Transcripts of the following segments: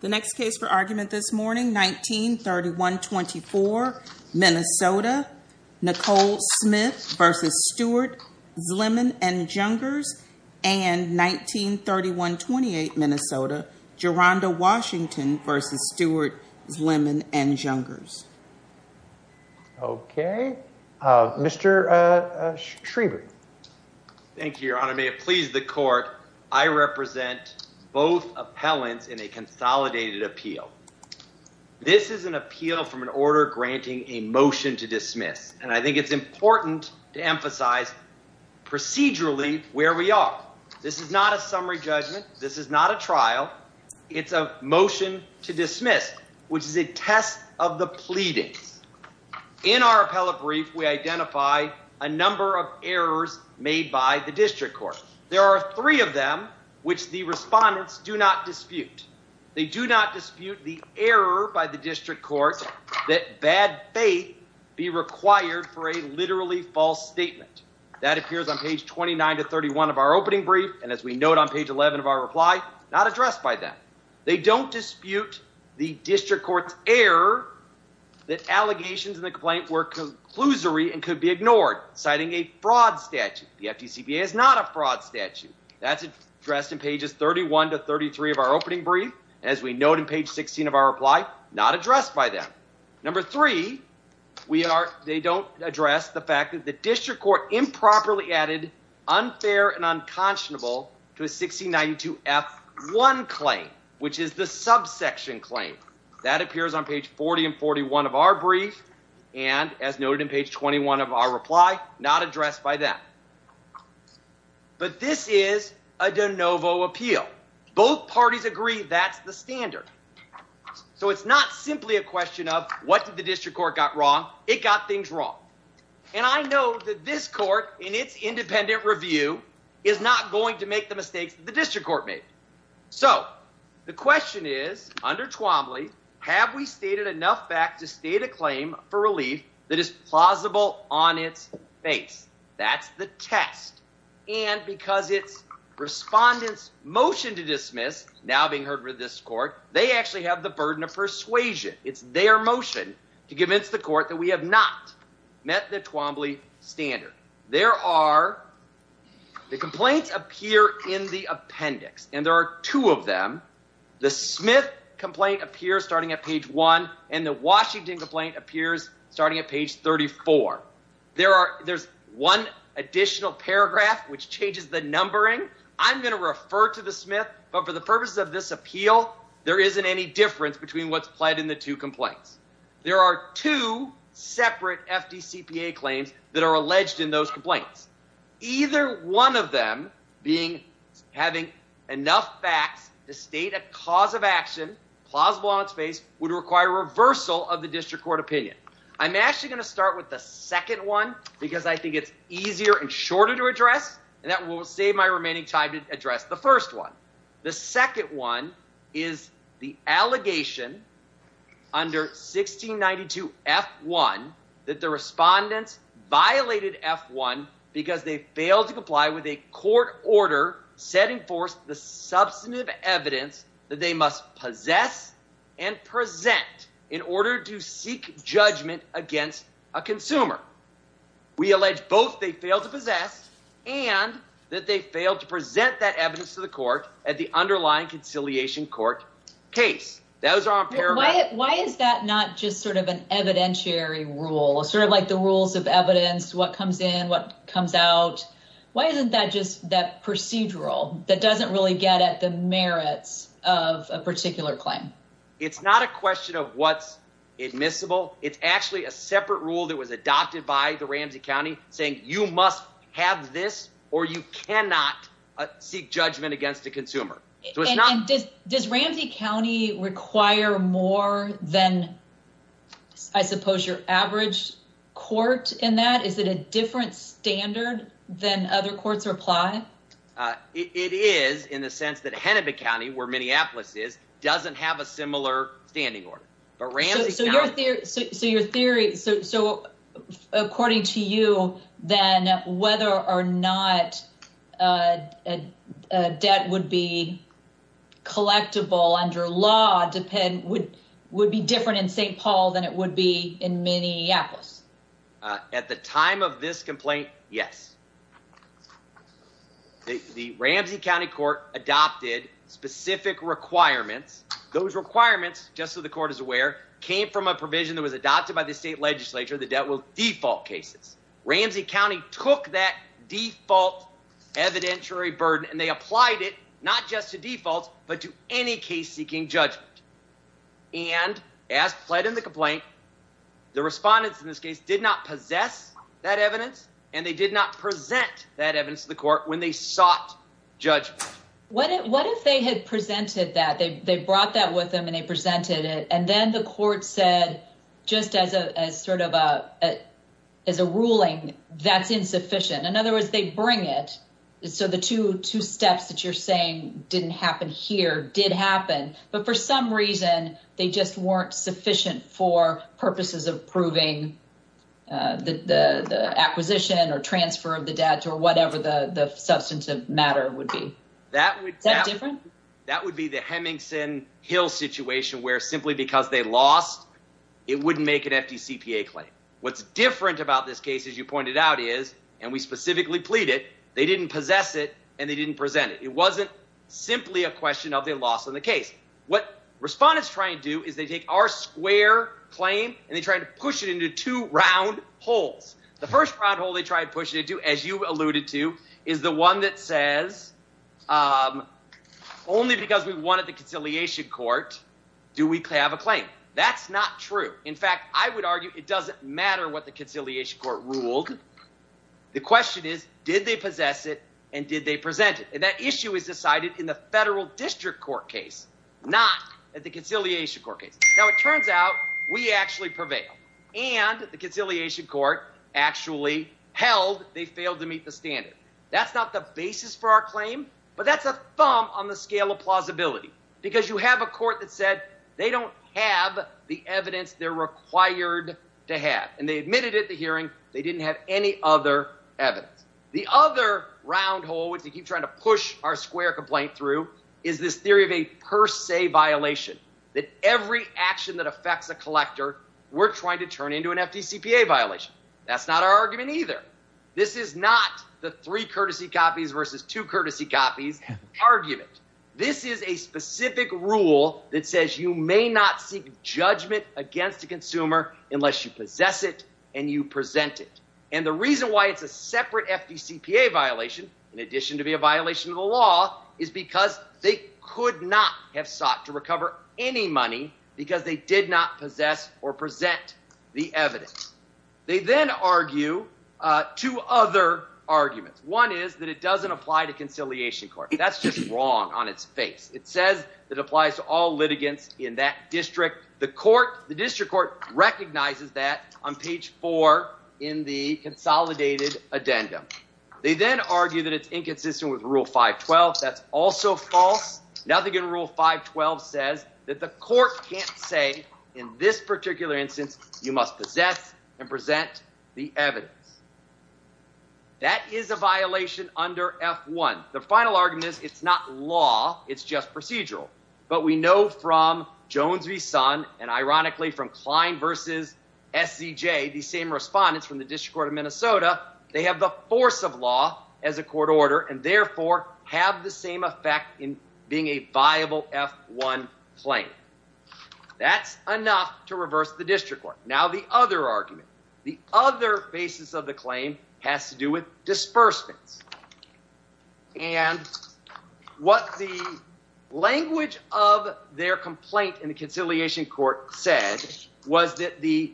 The next case for argument this morning, 1931-24, Minnesota, Nicole Smith v. Stewart, Zlimen & Jungers, and 1931-28, Minnesota, Jeronda Washington v. Stewart, Zlimen & Jungers. Okay, Mr. Schriever. Thank you, Your Honor. May it please the Court, I represent both appellants in a consolidated appeal. This is an appeal from an order granting a motion to dismiss, and I think it's important to emphasize procedurally where we are. This is not a summary judgment. This is not a trial. It's a motion to dismiss, which is a test of the pleadings. In our appellate brief, we identify a number of errors made by the district court. There are three of them, which the respondents do not dispute. They do not dispute the error by the district court that bad faith be required for a literally false statement. That appears on page 29-31 of our opening brief, and as we note on page 11 of our reply, not addressed by them. They don't dispute the district court's error that allegations in the complaint were conclusory and could be ignored, citing a fraud statute. The FDCPA is not a fraud statute. That's addressed in pages 31-33 of our opening brief. As we note in page 16 of our reply, not addressed by them. Number three, they don't address the fact that the district court improperly added unfair and unconscionable to a 1692F1 claim, which is the subsection claim. That appears on page 40-41 of our brief, and as noted in page 21 of our reply, not addressed by them. But this is a de novo appeal. Both parties agree that's the standard. So it's not simply a question of what did the district court got wrong. It got things wrong. And I know that this court, in its independent review, is not going to make the mistakes that the district court made. So the question is, under Twombly, have we stated enough facts to state a claim for relief that is plausible on its face? That's the test. And because it's respondent's motion to dismiss, now being heard with this court, they actually have the burden of persuasion. It's their motion to convince the court that we have not met the Twombly standard. The complaints appear in the appendix, and there are two of them. The Smith complaint appears starting at page 1, and the Washington complaint appears starting at page 34. There's one additional paragraph which changes the numbering. I'm going to refer to the Smith, but for the purposes of this appeal, there isn't any difference between what's applied in the two complaints. There are two separate FDCPA claims that are alleged in those complaints. Either one of them, having enough facts to state a cause of action, plausible on its face, would require reversal of the district court opinion. I'm actually going to start with the second one because I think it's easier and shorter to address, and that will save my remaining time to address the first one. The second one is the allegation under 1692 F1 that the respondents violated F1 because they failed to comply with a court order setting forth the substantive evidence that they must possess and present in order to seek judgment against a consumer. We allege both they failed to possess and that they failed to present that evidence to the court at the underlying conciliation court case. Those are on paragraph. Why is that not just sort of an evidentiary rule, sort of like the rules of evidence, what comes in, what comes out? Why isn't that just that procedural that doesn't really get at the merits of a particular claim? It's not a question of what's admissible. It's actually a separate rule that was adopted by the Ramsey County saying you must have this or you cannot seek judgment against a consumer. Does Ramsey County require more than, I suppose, your average court in that? Is it a different standard than other courts apply? It is in the sense that Hennepin County, where Minneapolis is, doesn't have a similar standing order. So your theory, so according to you, then whether or not debt would be collectible under law would be different in St. Paul than it would be in Minneapolis. At the time of this complaint, yes. The Ramsey County Court adopted specific requirements. Those requirements, just so the court is aware, came from a provision that was adopted by the state legislature that debt will default cases. Ramsey County took that default evidentiary burden and they applied it not just to defaults but to any case seeking judgment. And as pled in the complaint, the respondents in this case did not possess that evidence and they did not present that evidence to the court when they sought judgment. What if they had presented that? They brought that with them and they presented it and then the court said, just as a ruling, that's insufficient. In other words, they bring it. So the two steps that you're saying didn't happen here did happen. But for some reason, they just weren't sufficient for purposes of proving the acquisition or transfer of the debt or whatever the substantive matter would be. That would be the Hemmings and Hill situation where simply because they lost, it wouldn't make an FTCPA claim. What's different about this case, as you pointed out, is and we specifically pleaded, they didn't possess it and they didn't present it. It wasn't simply a question of the loss of the case. What respondents try and do is they take our square claim and they try to push it into two round holes. The first round hole they try to push it into, as you alluded to, is the one that says only because we wanted the conciliation court do we have a claim. That's not true. In fact, I would argue it doesn't matter what the conciliation court ruled. The question is, did they possess it and did they present it? And that issue is decided in the federal district court case, not at the conciliation court case. Now, it turns out we actually prevail and the conciliation court actually held they failed to meet the standard. That's not the basis for our claim, but that's a thumb on the scale of plausibility because you have a court that said they don't have the evidence they're required to have. And they admitted at the hearing they didn't have any other evidence. The other round hole, which they keep trying to push our square complaint through, is this theory of a per se violation. That every action that affects a collector, we're trying to turn into an FDCPA violation. That's not our argument either. This is not the three courtesy copies versus two courtesy copies argument. This is a specific rule that says you may not seek judgment against a consumer unless you possess it and you present it. And the reason why it's a separate FDCPA violation, in addition to be a violation of the law, is because they could not have sought to recover any money because they did not possess or present the evidence. They then argue two other arguments. One is that it doesn't apply to conciliation court. That's just wrong on its face. It says it applies to all litigants in that district. The district court recognizes that on page four in the consolidated addendum. They then argue that it's inconsistent with rule 512. That's also false. Nothing in rule 512 says that the court can't say in this particular instance you must possess and present the evidence. That is a violation under F1. The final argument is it's not law. It's just procedural. But we know from Jones v. Sun and ironically from Klein versus SCJ, the same respondents from the district court of Minnesota, they have the force of law as a court order and therefore have the same effect in being a viable F1 claim. That's enough to reverse the district court. Now the other argument, the other basis of the claim has to do with disbursements. And what the language of their complaint in the conciliation court said was that the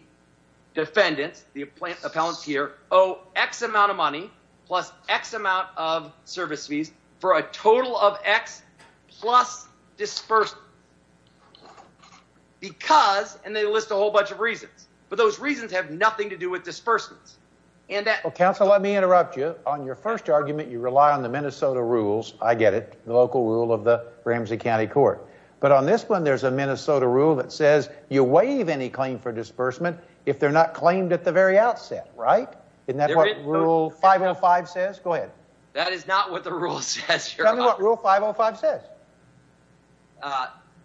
defendants, the appellants here, owe X amount of money plus X amount of service fees for a total of X plus disbursement. Because, and they list a whole bunch of reasons, but those reasons have nothing to do with disbursements. Counsel, let me interrupt you. On your first argument, you rely on the Minnesota rules. I get it. The local rule of the Ramsey County Court. But on this one, there's a Minnesota rule that says you waive any claim for disbursement if they're not claimed at the very outset, right? Isn't that what rule 505 says? Go ahead. That is not what the rule says, Your Honor. Tell me what rule 505 says.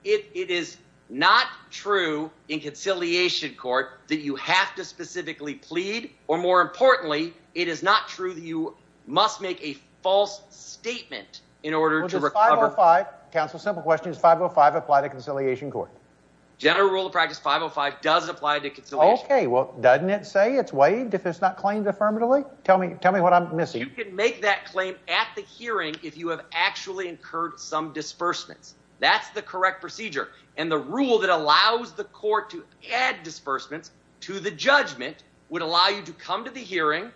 It is not true in conciliation court that you have to specifically plead, or more importantly, it is not true that you must make a false statement in order to recover. Counsel, simple question. Does 505 apply to conciliation court? General rule of practice 505 does apply to conciliation court. Okay, well, doesn't it say it's waived if it's not claimed affirmatively? Tell me what I'm missing. You can make that claim at the hearing if you have actually incurred some disbursements. That's the correct procedure. And the rule that allows the court to add disbursements to the judgment would allow you to come to the hearing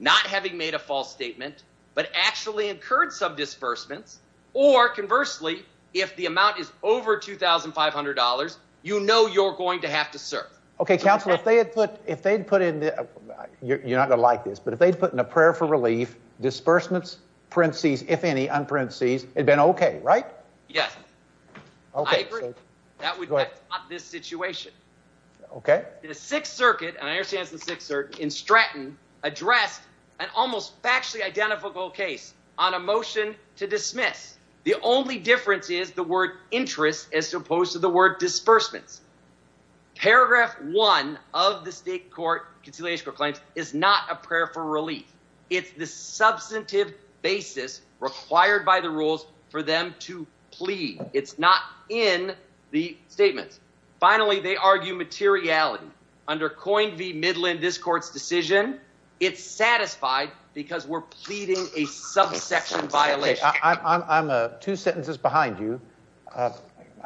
not having made a false statement but actually incurred some disbursements. Or, conversely, if the amount is over $2,500, you know you're going to have to serve. Okay, Counselor, if they had put in – you're not going to like this – but if they had put in a prayer for relief, disbursements, parentheses, if any, unparentheses, it would have been okay, right? Yes. I agree. That would have stopped this situation. Okay. The Sixth Circuit, and I understand it's the Sixth Circuit, in Stratton addressed an almost factually identifiable case on a motion to dismiss. The only difference is the word interest as opposed to the word disbursements. Paragraph one of the state court conciliation claims is not a prayer for relief. It's the substantive basis required by the rules for them to plead. It's not in the statements. Finally, they argue materiality. Under Coyne v. Midland, this court's decision, it's satisfied because we're pleading a subsection violation. I'm two sentences behind you. I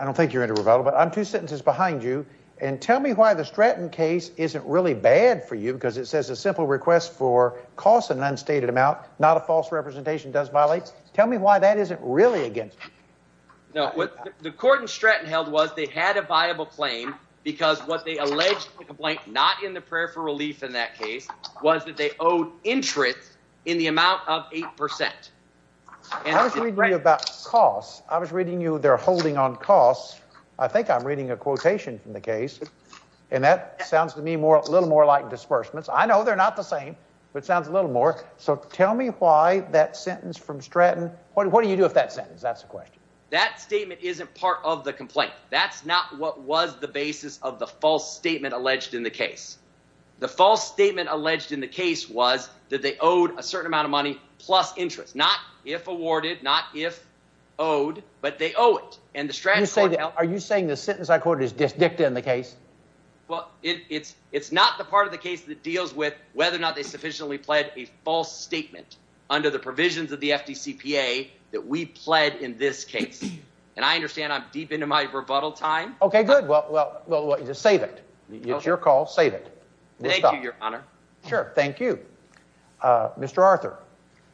don't think you're into rebuttal, but I'm two sentences behind you. And tell me why the Stratton case isn't really bad for you because it says a simple request for cost in an unstated amount, not a false representation, does violate. Tell me why that isn't really against you. No, what the court in Stratton held was they had a viable claim because what they alleged in the complaint, not in the prayer for relief in that case, was that they owed interest in the amount of 8%. How does he agree about costs? I was reading you their holding on costs. I think I'm reading a quotation from the case, and that sounds to me a little more like disbursements. I know they're not the same, but it sounds a little more. So tell me why that sentence from Stratton. What do you do with that sentence? That's the question. That statement isn't part of the complaint. That's not what was the basis of the false statement alleged in the case. The false statement alleged in the case was that they owed a certain amount of money plus interest, not if awarded, not if owed, but they owe it. And the Stratton court held— Are you saying the sentence I quoted is disdict in the case? Well, it's not the part of the case that deals with whether or not they sufficiently pled a false statement under the provisions of the FDCPA that we pled in this case. And I understand I'm deep into my rebuttal time. Okay, good. Well, save it. It's your call. Save it. Thank you, Your Honor. Sure. Thank you. Mr. Arthur.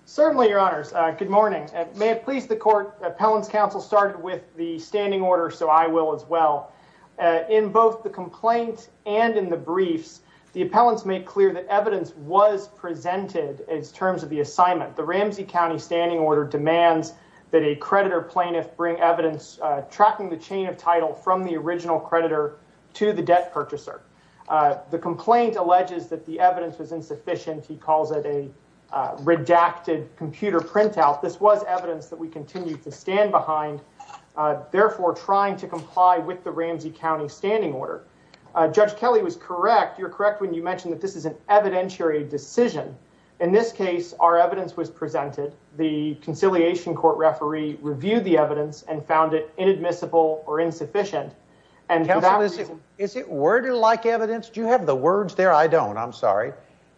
Certainly, Your Honors. Good morning. May it please the court, appellant's counsel started with the standing order, so I will as well. In both the complaint and in the briefs, the appellants made clear that evidence was presented in terms of the assignment. The Ramsey County standing order demands that a creditor plaintiff bring evidence tracking the chain of title from the original creditor to the debt purchaser. The complaint alleges that the evidence was insufficient. He calls it a redacted computer printout. This was evidence that we continue to stand behind, therefore trying to comply with the Ramsey County standing order. Judge Kelly was correct. You're correct when you mentioned that this is an evidentiary decision. In this case, our evidence was presented. The conciliation court referee reviewed the evidence and found it inadmissible or insufficient. Counsel, is it worded like evidence? Do you have the words there? I don't. I'm sorry.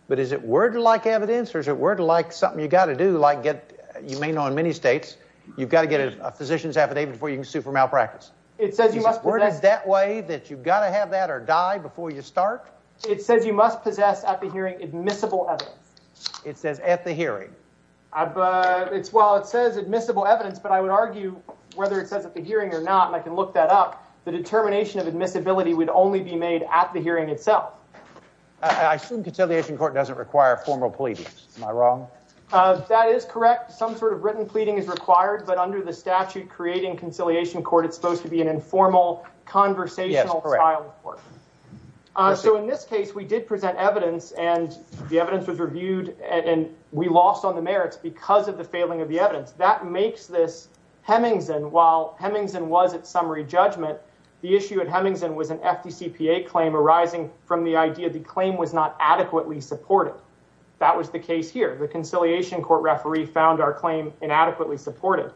But is it worded like evidence? Or is it worded like something you've got to do, like you may know in many states, you've got to get a physician's affidavit before you can sue for malpractice? It says you must possess. Is it worded that way, that you've got to have that or die before you start? It says you must possess at the hearing admissible evidence. It says at the hearing. Well, it says admissible evidence, but I would argue whether it says at the hearing or not, and I can look that up, the determination of admissibility would only be made at the hearing itself. I assume conciliation court doesn't require formal pleadings. Am I wrong? That is correct. Some sort of written pleading is required, but under the statute creating conciliation court, it's supposed to be an informal, conversational style of court. So in this case, we did present evidence, and the evidence was reviewed, and we lost on the merits because of the failing of the evidence. That makes this Hemingson, while Hemingson was at summary judgment, the issue at Hemingson was an FDCPA claim arising from the idea the claim was not adequately supported. That was the case here. The conciliation court referee found our claim inadequately supported.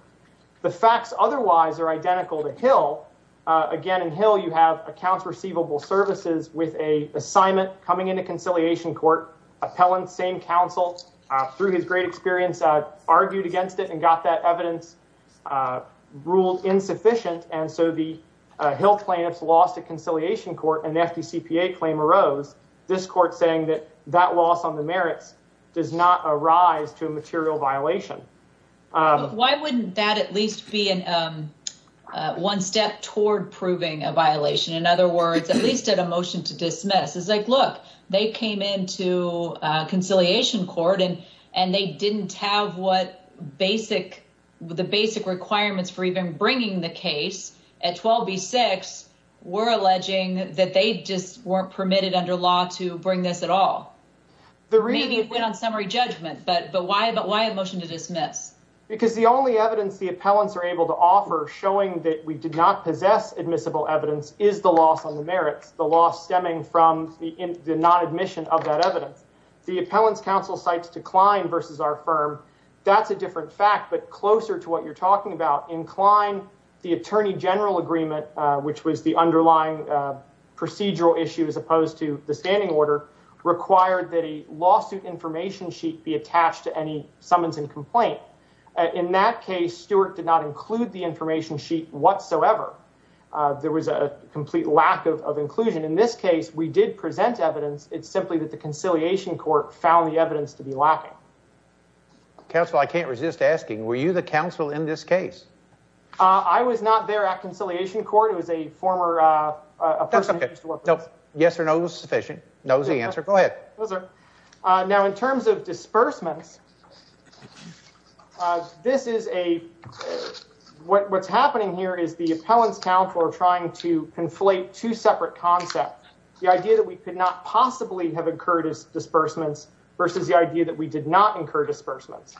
Again, in Hill, you have accounts receivable services with a assignment coming into conciliation court. Appellant, same counsel, through his great experience, argued against it and got that evidence ruled insufficient. And so the Hill plaintiffs lost a conciliation court, and the FDCPA claim arose, this court saying that that loss on the merits does not arise to a material violation. Why wouldn't that at least be one step toward proving a violation? In other words, at least at a motion to dismiss. It's like, look, they came into conciliation court, and they didn't have the basic requirements for even bringing the case. At 12B6, we're alleging that they just weren't permitted under law to bring this at all. Maybe it went on summary judgment, but why a motion to dismiss? Because the only evidence the appellants are able to offer showing that we did not possess admissible evidence is the loss on the merits. The loss stemming from the non-admission of that evidence. The appellants' counsel cites decline versus our firm. That's a different fact, but closer to what you're talking about. The attorney general agreement, which was the underlying procedural issue as opposed to the standing order, required that a lawsuit information sheet be attached to any summons and complaint. In that case, Stewart did not include the information sheet whatsoever. There was a complete lack of inclusion. In this case, we did present evidence. It's simply that the conciliation court found the evidence to be lacking. Counsel, I can't resist asking, were you the counsel in this case? I was not there at conciliation court. It was a former person. Yes or no is sufficient. No is the answer. Go ahead. Now, in terms of disbursements, what's happening here is the appellants' counsel are trying to conflate two separate concepts. The idea that we could not possibly have incurred disbursements versus the idea that we did not incur disbursements.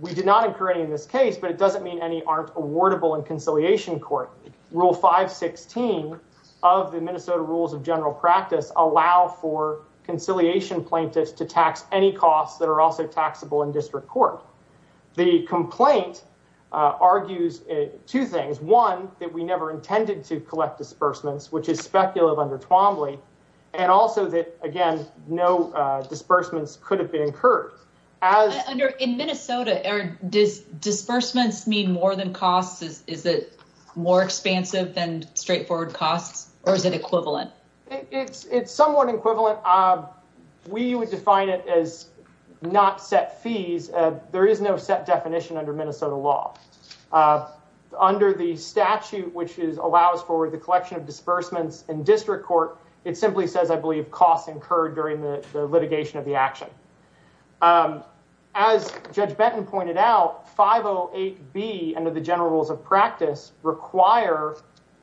We did not incur any in this case, but it doesn't mean any aren't awardable in conciliation court. Rule 516 of the Minnesota Rules of General Practice allow for conciliation plaintiffs to tax any costs that are also taxable in district court. The complaint argues two things. One, that we never intended to collect disbursements, which is speculative under Twombly, and also that, again, no disbursements could have been incurred. In Minnesota, does disbursements mean more than costs? Is it more expansive than straightforward costs, or is it equivalent? It's somewhat equivalent. We would define it as not set fees. There is no set definition under Minnesota law. Under the statute, which allows for the collection of disbursements in district court, it simply says, I believe, costs incurred during the litigation of the action. As Judge Benton pointed out, 508B under the general rules of practice require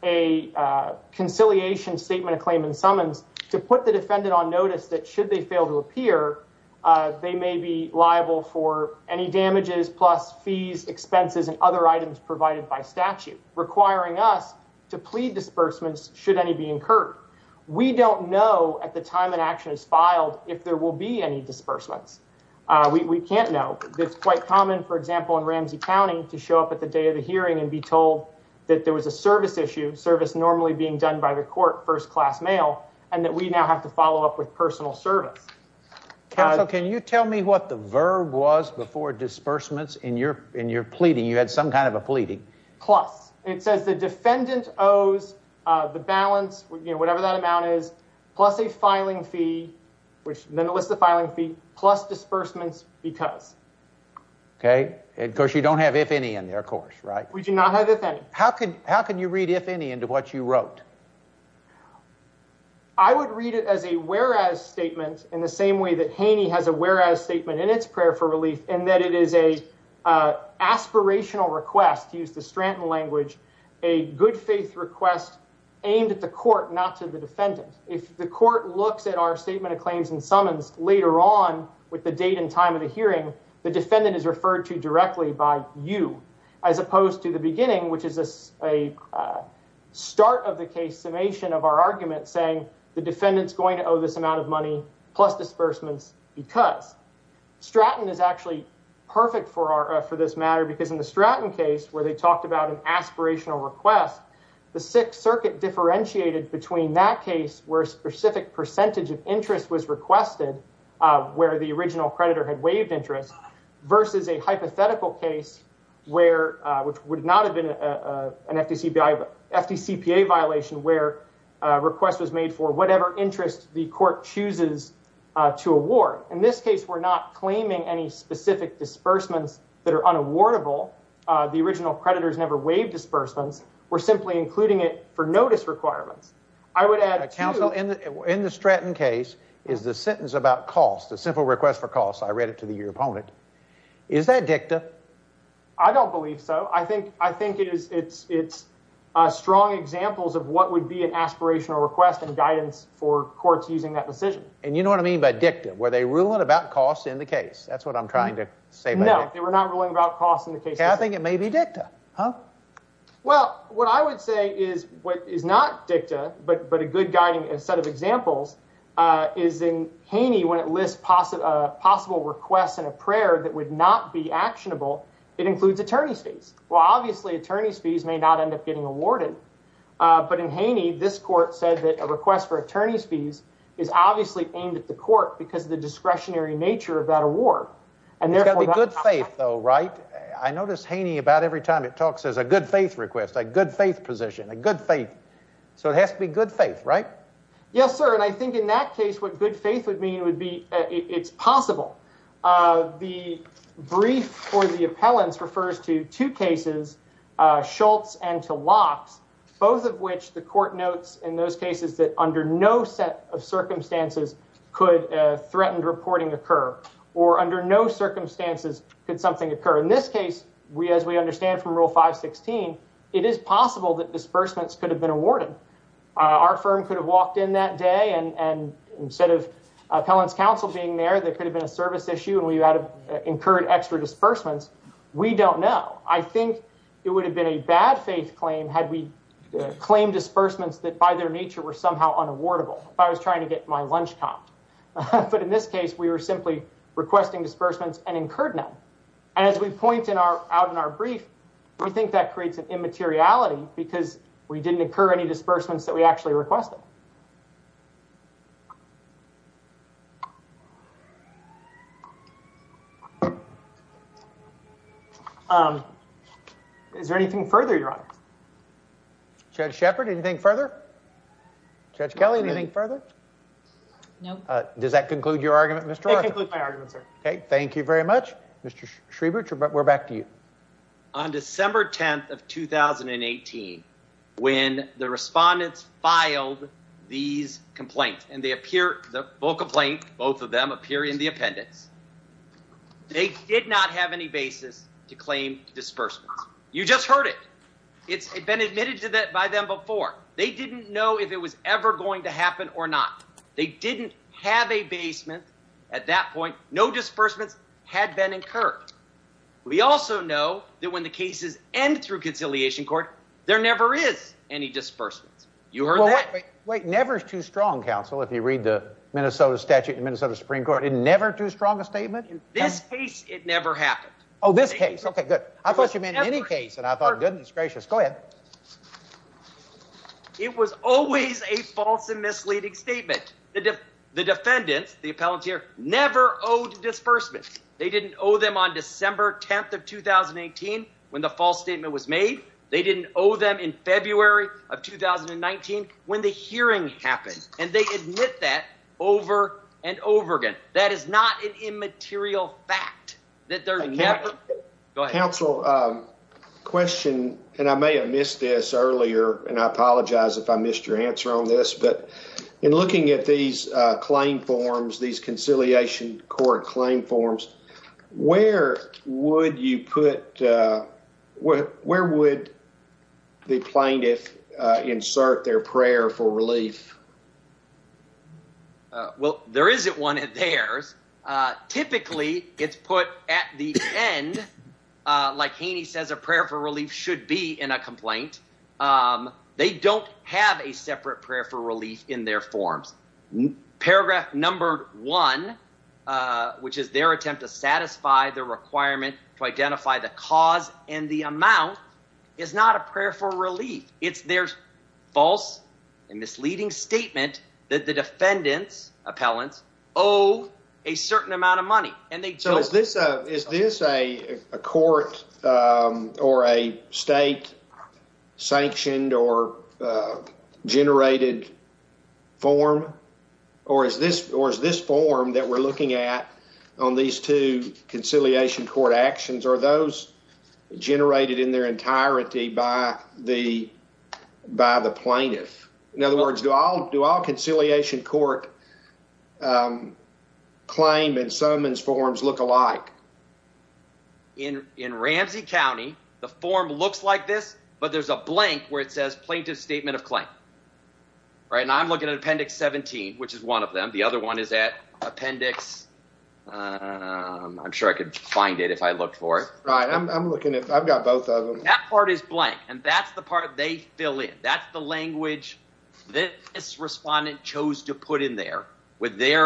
a conciliation statement of claim and summons to put the defendant on notice that should they fail to appear, they may be liable for any damages plus fees, expenses, and other items provided by statute, requiring us to plead disbursements should any be incurred. We don't know at the time an action is filed if there will be any disbursements. We can't know. It's quite common, for example, in Ramsey County to show up at the day of the hearing and be told that there was a service issue, service normally being done by the court, first-class mail, and that we now have to follow up with personal service. Counsel, can you tell me what the verb was before disbursements in your pleading? You had some kind of a pleading. It says the defendant owes the balance, whatever that amount is, plus a filing fee, which then lists the filing fee, plus disbursements because. Okay. Of course, you don't have if any in there, of course, right? We do not have if any. How can you read if any into what you wrote? I would read it as a whereas statement in the same way that Haney has a whereas statement in its prayer for relief in that it is an aspirational request, used the Stratton language, a good faith request aimed at the court, not to the defendant. If the court looks at our statement of claims and summons later on with the date and time of the hearing, the defendant is referred to directly by you, as opposed to the beginning, which is a start of the case summation of our argument saying the defendant's going to owe this amount of money plus disbursements because. Stratton is actually perfect for this matter, because in the Stratton case where they talked about an aspirational request, the Sixth Circuit differentiated between that case where a specific percentage of interest was requested, where the original creditor had waived interest, versus a hypothetical case where, which would not have been an FDCPA violation, where a request was made for whatever interest the court chooses to award. In this case, we're not claiming any specific disbursements that are unawardable. The original creditors never waived disbursements. We're simply including it for notice requirements. I would add to— Counsel, in the Stratton case is the sentence about cost, the simple request for cost. I read it to your opponent. Is that dicta? I don't believe so. I think it's strong examples of what would be an aspirational request and guidance for courts using that decision. And you know what I mean by dicta? Were they ruling about cost in the case? That's what I'm trying to say. No, they were not ruling about cost in the case. I think it may be dicta. Well, what I would say is what is not dicta, but a good guiding set of examples, is in Haney when it lists possible requests and a prayer that would not be actionable, it includes attorney's fees. Well, obviously, attorney's fees may not end up getting awarded. But in Haney, this court said that a request for attorney's fees is obviously aimed at the court because of the discretionary nature of that award. And therefore— It's got to be good faith, though, right? I notice Haney, about every time it talks, says a good faith request, a good faith position, a good faith. So it has to be good faith, right? Yes, sir. And I think in that case, what good faith would mean would be it's possible. The brief for the appellants refers to two cases, Schultz and to Lox, both of which the court notes in those cases that under no set of circumstances could threatened reporting occur. Or under no circumstances could something occur. In this case, as we understand from Rule 516, it is possible that disbursements could have been awarded. Our firm could have walked in that day, and instead of appellants' counsel being there, there could have been a service issue, and we would have incurred extra disbursements. We don't know. I think it would have been a bad faith claim had we claimed disbursements that by their nature were somehow unawardable. If I was trying to get my lunch comp. But in this case, we were simply requesting disbursements and incurred none. And as we point out in our brief, we think that creates an immateriality because we didn't incur any disbursements that we actually requested. Is there anything further, Your Honor? Judge Shepard, anything further? Judge Kelly, anything further? No. Does that conclude your argument, Mr. Arthur? It concludes my argument, sir. Okay. Thank you very much. Mr. Schriebert, we're back to you. On December 10th of 2018, when the respondents filed these complaints, and they appear, the full complaint, both of them appear in the appendix, they did not have any basis to claim disbursements. You just heard it. It's been admitted to that by them before. They didn't know if it was ever going to happen or not. They didn't have a basement at that point. No disbursements had been incurred. We also know that when the cases end through conciliation court, there never is any disbursements. You heard that. Wait. Never is too strong, counsel, if you read the Minnesota statute and the Minnesota Supreme Court. Is never too strong a statement? In this case, it never happened. Oh, this case. Okay, good. I thought you meant any case, and I thought, goodness gracious. Go ahead. It was always a false and misleading statement. The defendants, the appellant here, never owed disbursements. They didn't owe them on December 10th of 2018 when the false statement was made. They didn't owe them in February of 2019 when the hearing happened. And they admit that over and over again. That is not an immaterial fact. Counsel, question, and I may have missed this earlier, and I apologize if I missed your answer on this. But in looking at these claim forms, these conciliation court claim forms, where would you put, where would the plaintiff insert their prayer for relief? Well, there isn't one of theirs. Typically, it's put at the end, like Haney says, a prayer for relief should be in a complaint. They don't have a separate prayer for relief in their forms. Paragraph number one, which is their attempt to satisfy the requirement to identify the cause and the amount, is not a prayer for relief. It's their false and misleading statement that the defendants, appellants, owe a certain amount of money. So is this a court or a state sanctioned or generated form? Or is this form that we're looking at on these two conciliation court actions, are those generated in their entirety by the plaintiff? In other words, do all conciliation court claim and summons forms look alike? In Ramsey County, the form looks like this, but there's a blank where it says plaintiff's statement of claim. Right, and I'm looking at Appendix 17, which is one of them. The other one is at Appendix, I'm sure I could find it if I looked for it. Right, I'm looking at, I've got both of them. That part is blank, and that's the part they fill in. That's the language this respondent chose to put in there with their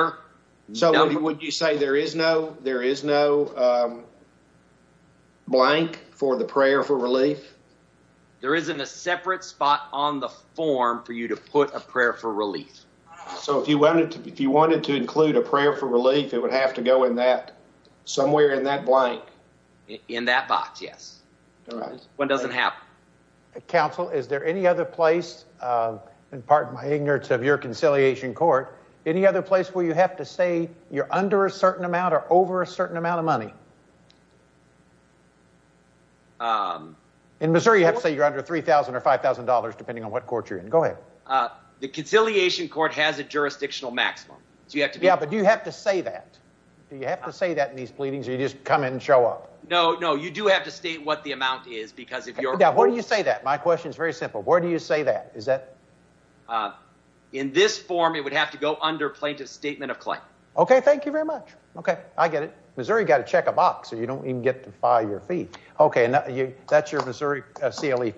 number. So would you say there is no blank for the prayer for relief? There isn't a separate spot on the form for you to put a prayer for relief. So if you wanted to include a prayer for relief, it would have to go in that, somewhere in that blank? In that box, yes. One doesn't have. Counsel, is there any other place, and pardon my ignorance of your conciliation court, any other place where you have to say you're under a certain amount or over a certain amount of money? In Missouri you have to say you're under $3,000 or $5,000, depending on what court you're in. Go ahead. The conciliation court has a jurisdictional maximum. Yeah, but do you have to say that? Do you have to say that in these pleadings, or do you just come in and show up? No, no, you do have to state what the amount is, because if your court is- Now, where do you say that? My question is very simple. Where do you say that? Is that- In this form, it would have to go under plaintiff's statement of claim. Okay, thank you very much. Okay, I get it. Missouri, you've got to check a box, or you don't even get to file your fee. Okay, that's your Missouri CLE for me.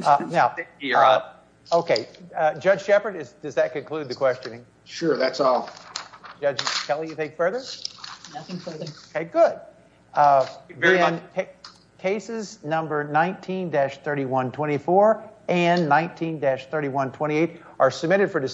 Thank you. You're up. Okay, Judge Shepard, does that conclude the questioning? Sure, that's all. Judge Kelly, you think further? Nothing further. Okay, good. Thank you very much. Then cases number 19-3124 and 19-3128 are submitted for decision.